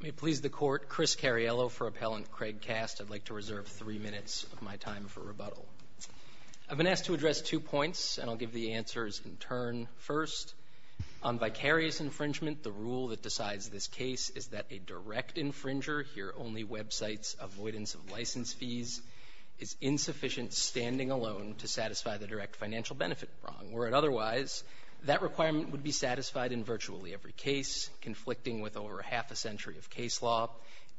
May it please the Court, Chris Cariello for Appellant Kraig Kast. I'd like to reserve three minutes of my time for rebuttal. I've been asked to address two points, and I'll give the answers in turn. First, on vicarious infringement, the rule that decides this case is that a direct infringer, here only websites avoidance of license fees, is insufficient standing alone to satisfy the direct financial benefit wrong. Were it otherwise, that requirement would be satisfied in virtually every case, conflicting with over half a century of case law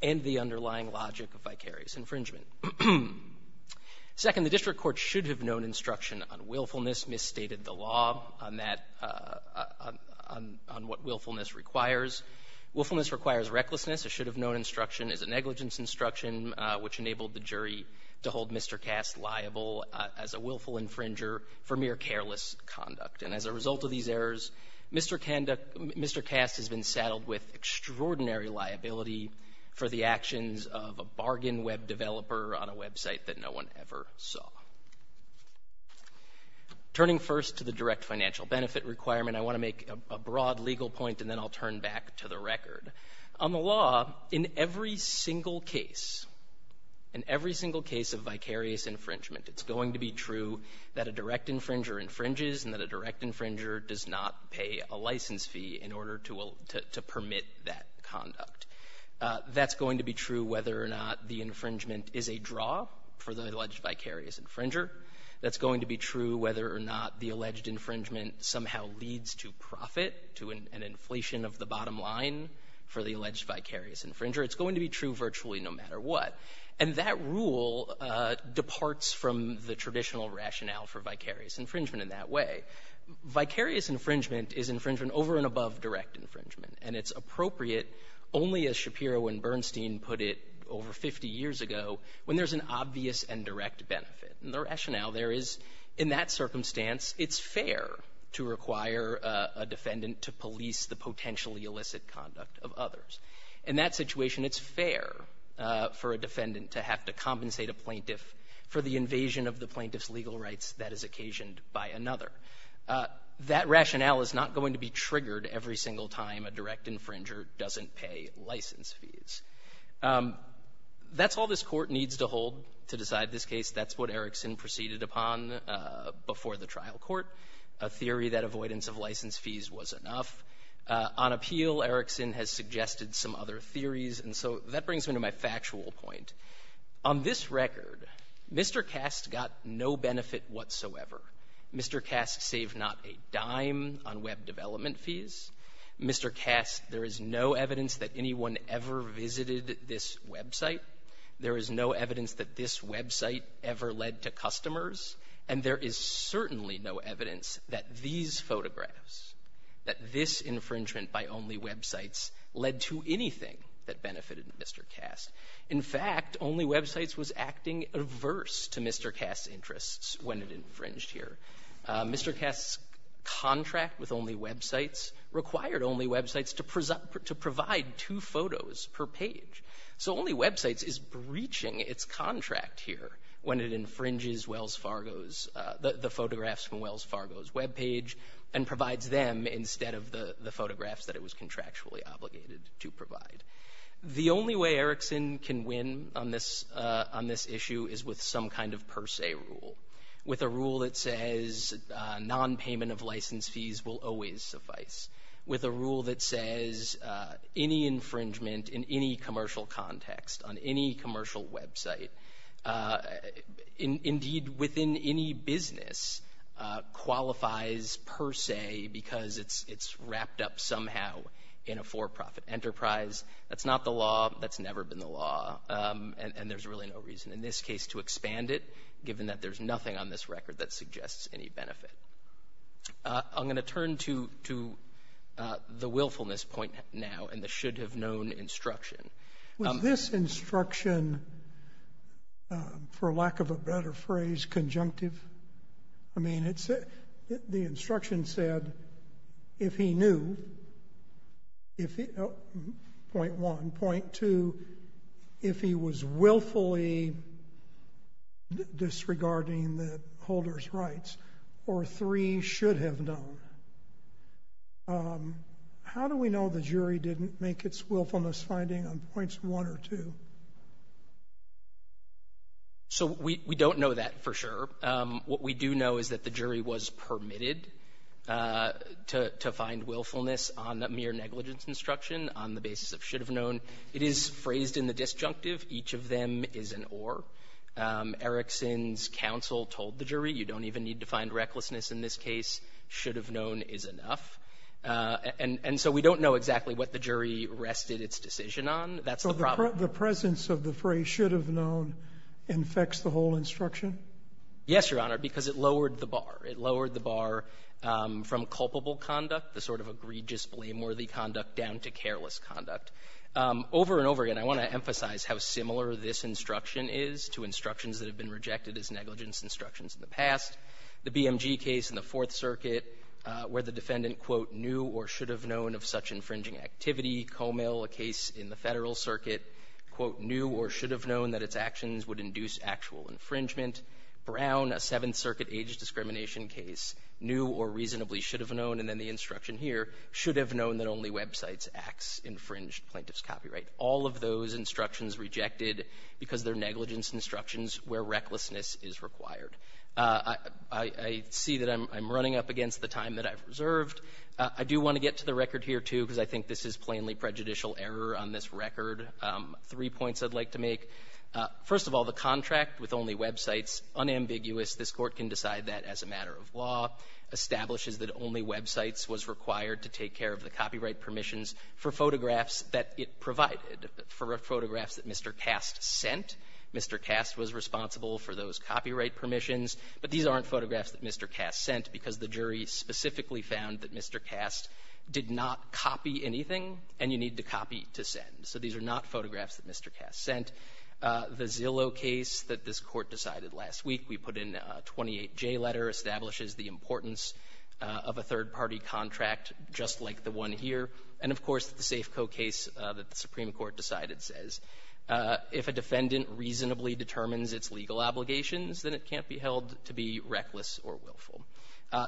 and the underlying logic of vicarious infringement. Second, the district court should have known instruction on willfulness, misstated the law on that — on what willfulness requires. Willfulness requires recklessness. It should have known instruction as a negligence instruction, which enabled the jury to hold Mr. Kast liable as a willful infringer for mere careless conduct. And as a result of these errors, Mr. Kast has been saddled with extraordinary liability for the actions of a bargain web developer on a website that no one ever saw. Turning first to the direct financial benefit requirement, I want to make a broad legal point, and then I'll turn back to the record. On the law, in every single case, in every single case of vicarious infringement, it's going to be true that a direct infringer infringes and that a direct infringer does not pay a license fee in order to permit that conduct. That's going to be true whether or not the infringement is a draw for the alleged vicarious infringer. That's going to be true whether or not the alleged infringement somehow leads to profit, to an inflation of the bottom line for the alleged vicarious infringer. It's going to be true virtually no matter what. And that rule departs from the traditional rationale for vicarious infringement in that way. Vicarious infringement is infringement over and above direct infringement. And it's appropriate only, as Shapiro and Bernstein put it over 50 years ago, when there's an obvious and direct benefit. And the rationale there is, in that circumstance, it's fair to require a defendant to police the potentially illicit conduct of others. In that situation, it's fair for a defendant to have to compensate a plaintiff for the invasion of the plaintiff's legal rights that is occasioned by another. That rationale is not going to be triggered every single time a direct infringer doesn't pay license fees. That's all this Court needs to hold to decide this case. That's what Erickson proceeded upon before the trial court, a theory that avoidance of license fees was enough. On appeal, Erickson has suggested some other theories, and so that brings me to my factual point. On this record, Mr. Kast got no benefit whatsoever. Mr. Kast saved not a dime on web development fees. Mr. Kast, there is no evidence that anyone ever visited this website. There is no evidence that this website ever led to customers. And there is certainly no evidence that these photographs, that this infringement by only websites, led to anything that benefited Mr. Kast. In fact, Mr. Kast's contract, only websites, was acting averse to Mr. Kast's interests when it infringed here. Mr. Kast's contract with only websites required only websites to provide two photos per page. So only websites is breaching its contract here when it infringes Wells Fargo's, the photographs from Wells Fargo's webpage, and provides them instead of the photographs that it was contractually obligated to provide. The only way Erickson can win on this issue is with some kind of per se rule. With a rule that says non-payment of license fees will always suffice. With a rule that says any infringement in any commercial context, on any commercial website, indeed, within any business, qualifies per se because it's wrapped up somehow in a for-profit enterprise. That's not the law. That's never been the law. And there's really no reason in this case to expand it, given that there's nothing on this record that suggests any benefit. I'm going to turn to the willfulness point now and the should have known instruction. Was this instruction, for lack of a better phrase, conjunctive? I mean, it's the instruction said, if he knew, point one, point two, if he was willfully disregarding the holder's rights, or three, should have known. How do we know the jury didn't make its willfulness finding on points one or two? So we don't know that for sure. What we do know is that the jury was permitted to find willfulness on mere negligence instruction on the basis of should have known. It is phrased in the disjunctive. Each of them is an or. Erickson's counsel told the jury, you don't even need to find recklessness in this case. Should have known is enough. And so we don't know exactly what the jury rested its decision on. That's the problem. So the presence of the phrase should have known infects the whole instruction? Yes, Your Honor, because it lowered the bar. It lowered the bar from culpable conduct, the sort of egregious, blameworthy conduct, down to careless conduct. Over and over again, I want to emphasize how similar this instruction is to instructions that have been rejected as negligence instructions in the past. The BMG case in the Fourth Circuit, where the defendant, quote, knew or should have known of such infringing activity. Comail, a case in the Federal Circuit, quote, knew or should have known that its actions would induce actual infringement. Brown, a Seventh Circuit age discrimination case, knew or reasonably should have known. And then the instruction here, should have known that only websites acts infringed plaintiff's copyright. All of those instructions rejected because they're negligence instructions where recklessness is required. I see that I'm running up against the time that I've reserved. I do want to get to the This is plainly prejudicial error on this record. Three points I'd like to make. First of all, the contract with only websites, unambiguous. This Court can decide that as a matter of law. Establishes that only websites was required to take care of the copyright permissions for photographs that it provided, for photographs that Mr. Kast sent. Mr. Kast was responsible for those copyright permissions, but these aren't photographs that Mr. Kast sent because the jury specifically found that Mr. Kast did not copy anything, and you need to copy to send. So these are not photographs that Mr. Kast sent. The Zillow case that this Court decided last week, we put in a 28J letter, establishes the importance of a third-party contract just like the one here. And, of course, the Safeco case that the Supreme Court decided says, if a defendant reasonably determines its legal obligations, then it can't be held to be reckless or willful.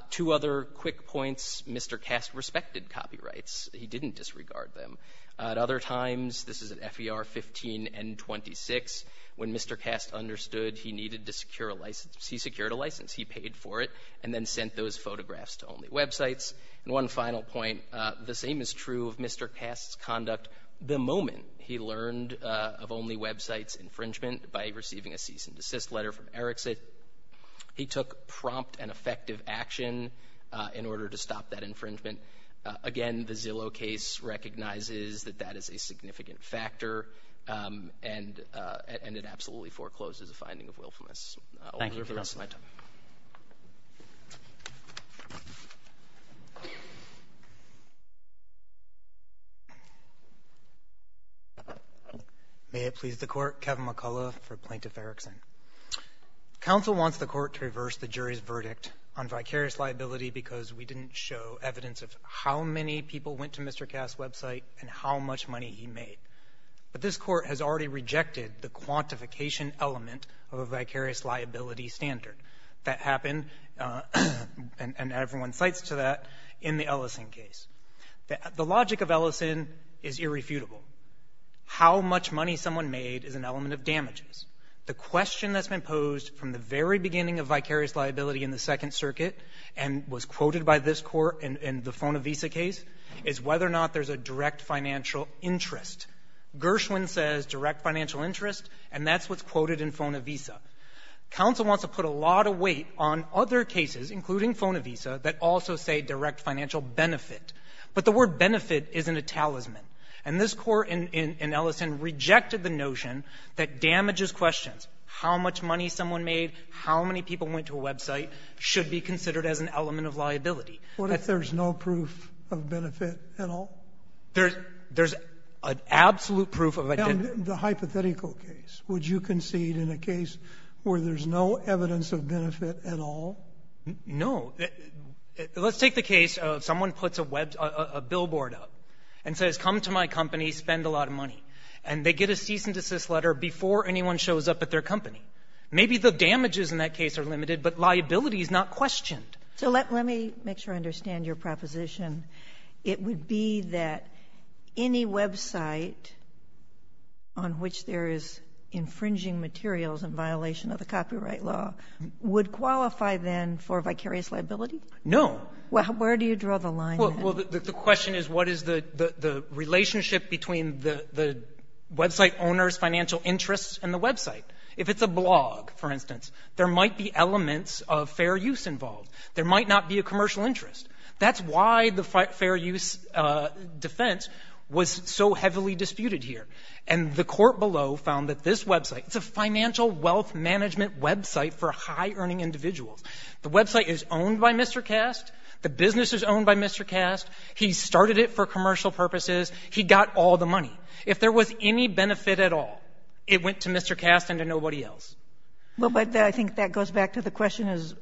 Two other quick points. Mr. Kast respected copyrights. He didn't disregard them. At other times, this is at FER 15N26, when Mr. Kast understood he needed to secure a license, he secured a license. He paid for it and then sent those photographs to only websites. And one final point, the same is true of Mr. Kast's conduct the moment he learned of only websites infringement by receiving a cease-and-desist letter from Erikson. He took prompt and effective action in order to stop that infringement. Again, the Zillow case recognizes that that is a significant factor, and it absolutely forecloses a finding of willfulness. Thank you for the rest of my time. May it please the Court, Kevin McCullough for Plaintiff Erikson. Counsel wants the Court to reverse the jury's verdict on vicarious liability because we didn't show evidence of how many people went to Mr. Kast's website and how much money he made. But this Court has already rejected the quantification element of a vicarious liability standard. That happened, and everyone cites to that, in the Ellison case. The logic of Ellison is irrefutable. How much money someone made is an element of damages. The question that's been posed from the very beginning of vicarious liability in the Second Circuit and was quoted by this Court in the Fona-Visa case is whether or not there's a direct financial interest. Gershwin says direct financial interest, and that's what's quoted in Fona-Visa. Counsel wants to put a lot of weight on other cases, including Fona-Visa, that also say direct financial benefit. But the word benefit isn't a talisman. And this Court in Ellison rejected the notion that damages questions, how much money someone made, how many people went to a website, should be considered as an element Sotomayor, what if there's no proof of benefit at all? There's an absolute proof of a benefit. Now, in the hypothetical case, would you concede in a case where there's no evidence of benefit at all? No. Let's take the case of someone puts a billboard up and says, come to my company, spend a lot of money. And they get a cease-and-desist letter before anyone shows up at their company. Maybe the damages in that case are limited, but liability is not questioned. So let me make sure I understand your proposition. It would be that any website on which there is infringing materials in violation of the copyright law would qualify, then, for vicarious liability? No. Well, where do you draw the line? Well, the question is, what is the relationship between the website owner's financial interests and the website? If it's a blog, for instance, there might be elements of fair use involved. There might not be a commercial interest. That's why the fair use defense was so heavily disputed here. And the court below found that this website, it's a financial wealth management website for high-earning individuals. The website is owned by Mr. Cast. The business is owned by Mr. Cast. He started it for commercial purposes. He got all the money. If there was any benefit at all, it went to Mr. Cast and to nobody else. Well, but I think that goes back to the question is,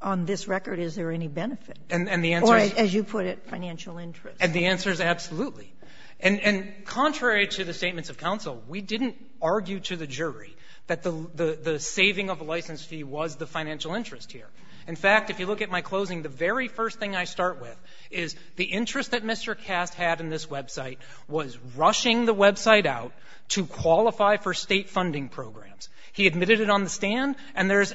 on this record, is there any benefit? And the answer is — Or, as you put it, financial interest. And the answer is absolutely. And contrary to the statements of counsel, we didn't argue to the jury that the saving of a license fee was the financial interest here. In fact, if you look at my closing, the very first thing I start with is the interest that Mr. Cast had in this website was rushing the website out to qualify for State funding programs. He admitted it on the stand, and there's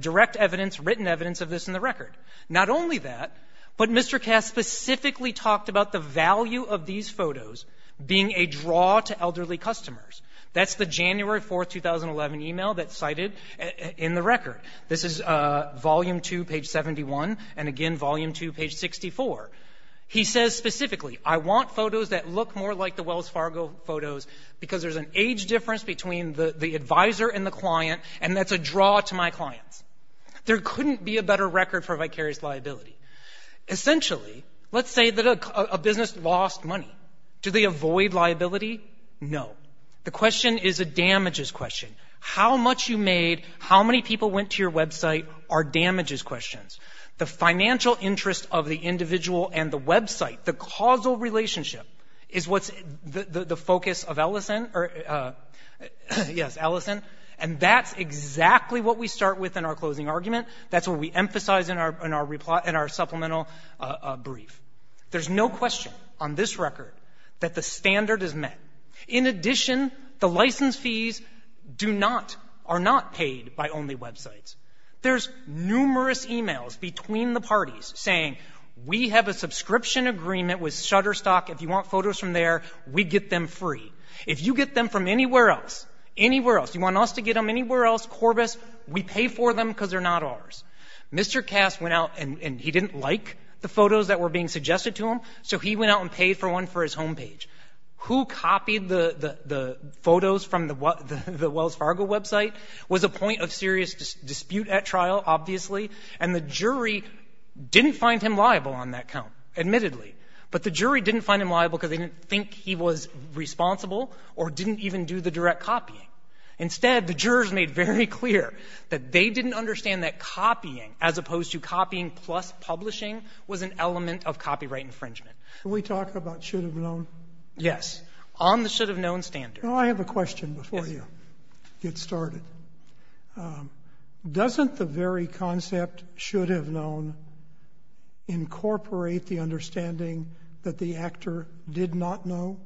direct evidence, written evidence of this in the record. Not only that, but Mr. Cast specifically talked about the value of these photos being a draw to elderly customers. That's the January 4, 2011, email that's cited in the record. This is Volume 2, page 71, and again, Volume 2, page 64. He says specifically, I want photos that look more like the Wells Fargo photos because there's an age difference between the adviser and the client, and that's a draw to my clients. There couldn't be a better record for vicarious liability. Essentially, let's say that a business lost money. Do they avoid liability? No. The question is a damages question. How much you made, how many people went to your website are damages questions. The financial interest of the individual and the website, the causal relationship, is what's the focus of Ellison, or yes, Ellison, and that's exactly what we start with in our closing argument. That's what we emphasize in our supplemental brief. There's no question on this record that the standard is met. In addition, the license fees do not, are not paid by only websites. There's numerous emails between the parties saying, we have a subscription agreement with Shutterstock. If you want photos from there, we get them free. If you get them from anywhere else, anywhere else, you want us to get them from anywhere else, Corbis, we pay for them because they're not ours. Mr. Cass went out and he didn't like the photos that were being suggested to him, so he went out and paid for one for his home page. Who copied the photos from the Wells Fargo website was a point of serious dispute at trial, obviously, and the jury didn't find him liable on that count, admittedly. But the jury didn't find him liable because they didn't think he was responsible or didn't even do the direct copying. Instead, the jurors made very clear that they didn't understand that copying, as opposed to copying plus publishing, was an element of copyright infringement. Sotomayor, can we talk about should-have-known? Yes. On the should-have-known standard. Well, I have a question before you get started. Doesn't the very concept, should-have-known, incorporate the understanding that the actor did not know?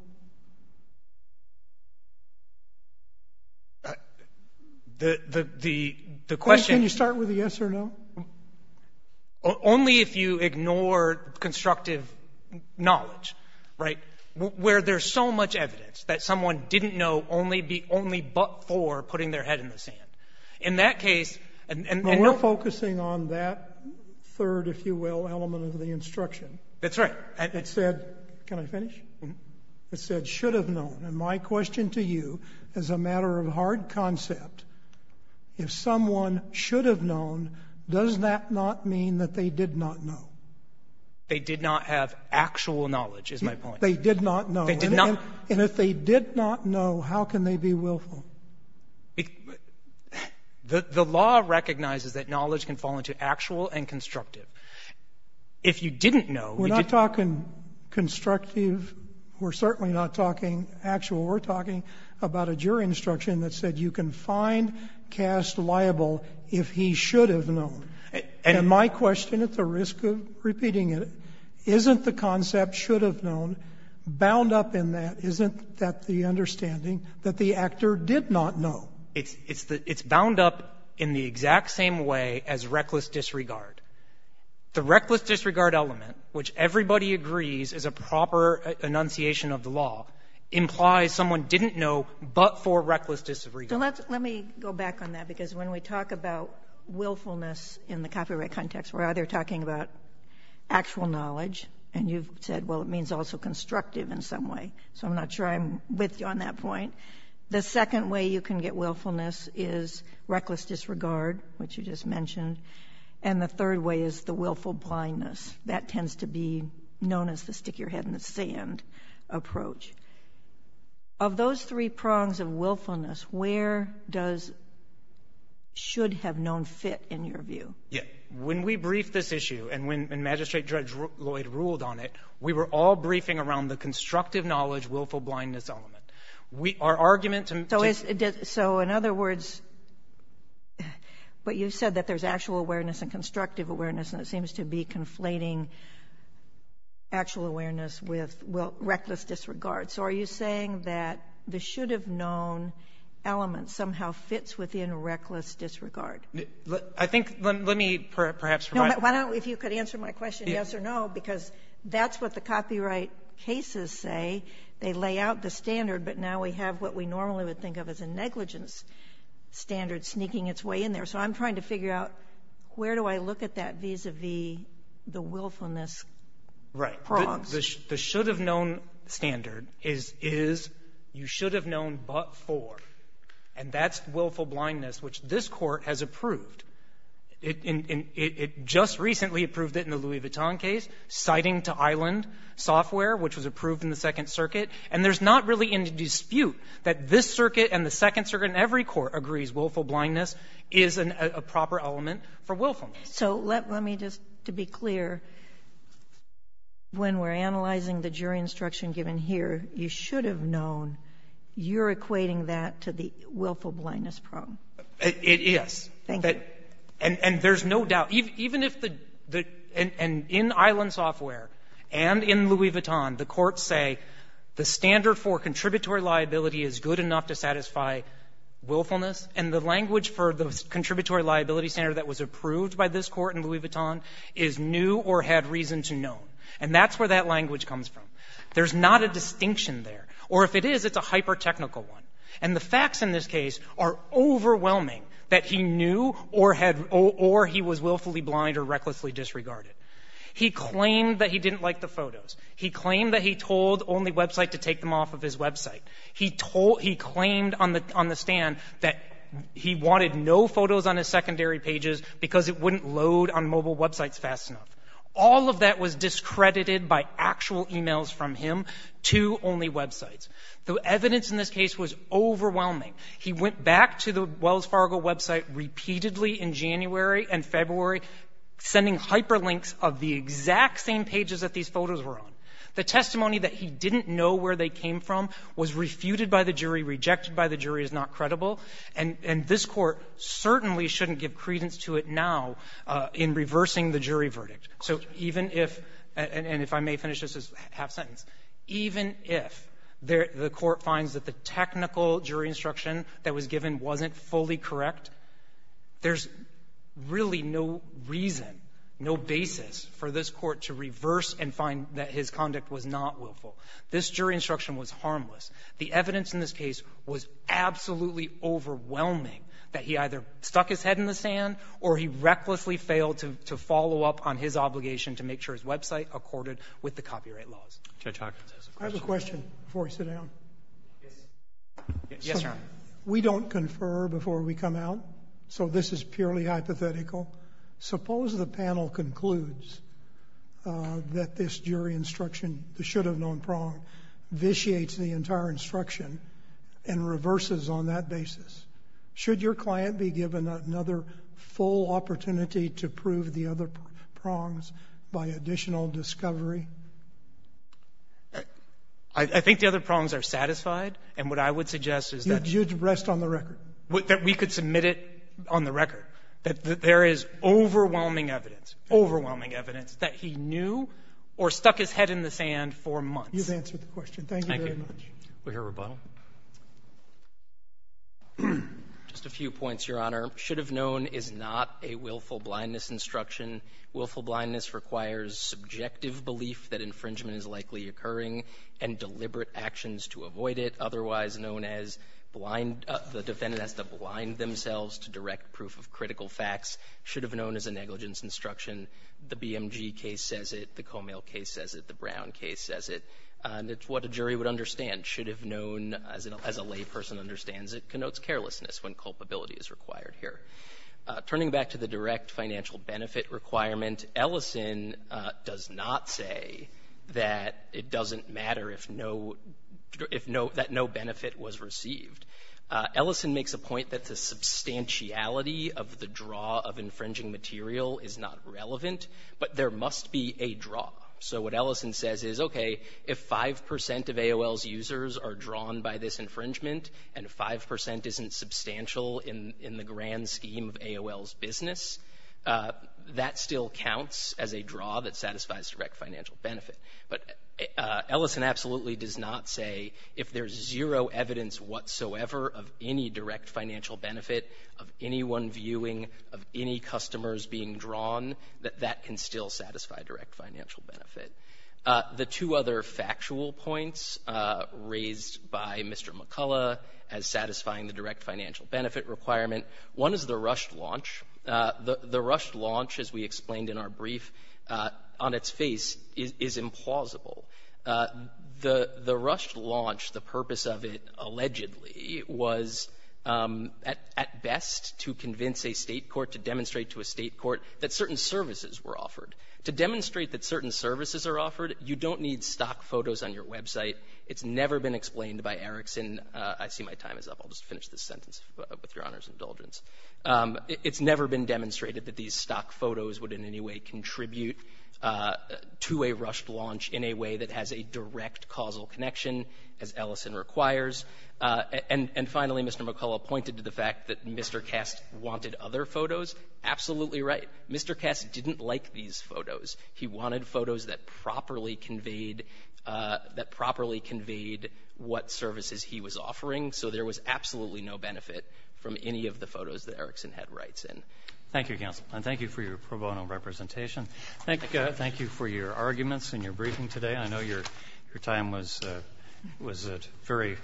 The question — Can you start with the yes or no? Only if you ignore constructive knowledge, right, where there's so much evidence that someone didn't know only but for putting their head in the sand. In that case — Well, we're focusing on that third, if you will, element of the instruction. That's right. It said — can I finish? It said should-have-known. And my question to you, as a matter of hard concept, if someone should have known, does that not mean that they did not know? They did not have actual knowledge, is my point. They did not know. They did not — And if they did not know, how can they be willful? The law recognizes that knowledge can fall into actual and constructive. If you didn't know — We're not talking constructive. We're certainly not talking actual. We're talking about a jury instruction that said you can find cast liable if he should have known. And my question, at the risk of repeating it, isn't the concept should-have-known bound up in that? Isn't that the understanding that the actor did not know? It's bound up in the exact same way as reckless disregard. The reckless disregard element, which everybody agrees is a proper enunciation of the law, implies someone didn't know but for reckless disregard. So let's — let me go back on that, because when we talk about willfulness in the copyright context, we're either talking about actual knowledge, and you've said, well, it means also constructive in some way. So I'm not sure I'm with you on that point. The second way you can get willfulness is reckless disregard, which you just mentioned. And the third way is the willful blindness. That tends to be known as the stick-your-head-in-the-sand approach. Of those three prongs of willfulness, where does should-have-known fit, in your view? Yeah. When we briefed this issue and when Magistrate Judge Lloyd ruled on it, we were all briefing around the constructive knowledge, willful blindness element. Our argument to — So in other words — but you said that there's actual awareness and constructive awareness, and it seems to be conflating actual awareness with reckless disregard. So are you saying that the should-have-known element somehow fits within reckless disregard? I think — let me perhaps provide — No, but why don't — if you could answer my question, yes or no, because that's what the copyright cases say. They lay out the standard, but now we have what we normally would think of as a negligence standard sneaking its way in there. So I'm trying to figure out, where do I look at that vis-a-vis the willfulness prongs? Right. The should-have-known standard is, is you should have known but for, and that's willful blindness, which this Court has approved. It just recently approved it in the Louis Vuitton case, citing to Island Software, which was approved in the Second Circuit. And there's not really any dispute that this circuit and the Second Circuit and every court agrees willful blindness is a proper element for willfulness. So let me just, to be clear, when we're analyzing the jury instruction given here, you should have known you're equating that to the willful blindness prong. It is. Thank you. And there's no doubt. Even if the, and in Island Software and in Louis Vuitton, the courts say the standard for contributory liability is good enough to satisfy willfulness, and the language for the contributory liability standard that was approved by this Court in Louis Vuitton is knew or had reason to know. And that's where that language comes from. There's not a distinction there. Or if it is, it's a hyper-technical one. And the facts in this case are overwhelming that he knew or had, or he was willfully blind or recklessly disregarded. He claimed that he didn't like the photos. He claimed that he told OnlyWebsite to take them off of his website. He told, he claimed on the stand that he wanted no photos on his secondary pages because it wouldn't load on mobile websites fast enough. All of that was discredited by actual e-mails from him to OnlyWebsites. The evidence in this case was overwhelming. He went back to the Wells Fargo website repeatedly in January and February, sending hyperlinks of the exact same pages that these photos were on. The testimony that he didn't know where they came from was refuted by the jury, rejected by the jury as not credible. And this Court certainly shouldn't give credence to it now in reversing the jury verdict. So even if, and if I may finish this as a half sentence, even if the Court finds that the technical jury instruction that was given wasn't fully correct, there's really no reason, no basis for this Court to reverse and find that his conduct was not willful. This jury instruction was harmless. The evidence in this case was absolutely overwhelming, that he either stuck his head in the sand or he recklessly failed to follow up on his obligation to make sure his website accorded with the copyright laws. Roberts. I have a question before I sit down. Yes, sir. We don't confer before we come out, so this is purely hypothetical. Suppose the panel concludes that this jury instruction, the should-have-known prong, vitiates the entire instruction and reverses on that basis. Should your client be given another full opportunity to prove the other prongs by additional discovery? I think the other prongs are satisfied, and what I would suggest is that we could submit it on the record, that there is overwhelming evidence, overwhelming evidence that he knew or stuck his head in the sand for months. You've answered the question. Thank you very much. We'll hear rebuttal. Just a few points, Your Honor. Should-have-known is not a willful blindness instruction. Willful blindness requires subjective belief that infringement is likely occurring and deliberate actions to avoid it. Otherwise known as blind the defendant has to blind themselves to direct proof of critical facts should have known as a negligence instruction. The BMG case says it. The Comey case says it. The Brown case says it. And it's what a jury would understand. Should-have-known, as a layperson understands it, connotes carelessness when culpability is required here. Turning back to the direct financial benefit requirement, Ellison does not say that it doesn't matter if no – if no – that no benefit was received. Ellison makes a point that the substantiality of the draw of infringing material is not relevant, but there must be a draw. So what Ellison says is, okay, if 5 percent of AOL's users are drawn by this infringement and 5 percent isn't substantial in the grand scheme of AOL's business, that still counts as a draw that satisfies direct financial benefit. But Ellison absolutely does not say if there's zero evidence whatsoever of any direct financial benefit of anyone viewing, of any customers being drawn, that that can still satisfy direct financial benefit. The two other factual points raised by Mr. McCullough as satisfying the direct financial benefit requirement, one is the rushed launch. The rushed launch, as we explained in our brief, on its face, is implausible. The rushed launch, the purpose of it allegedly, was at best to convince a State court, to demonstrate to a State court that certain services were offered. To demonstrate that certain services are offered, you don't need stock photos on your website. It's never been explained by Erickson. I see my time is up. I'll just finish this sentence with Your Honor's indulgence. It's never been demonstrated that these stock photos would in any way contribute to a rushed launch in a way that has a direct causal connection, as Ellison requires. And finally, Mr. McCullough pointed to the fact that Mr. Kast wanted other photos. Absolutely right. Mr. Kast didn't like these photos. He wanted photos that properly conveyed what services he was offering. So there was absolutely no benefit from any of the photos that Erickson had rights in. Thank you, counsel. And thank you for your pro bono representation. Thank you for your arguments in your briefing today. I know your time was very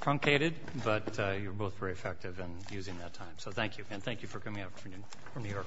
truncated, but you were both very effective in using that time. So thank you. And thank you for coming out from New York today.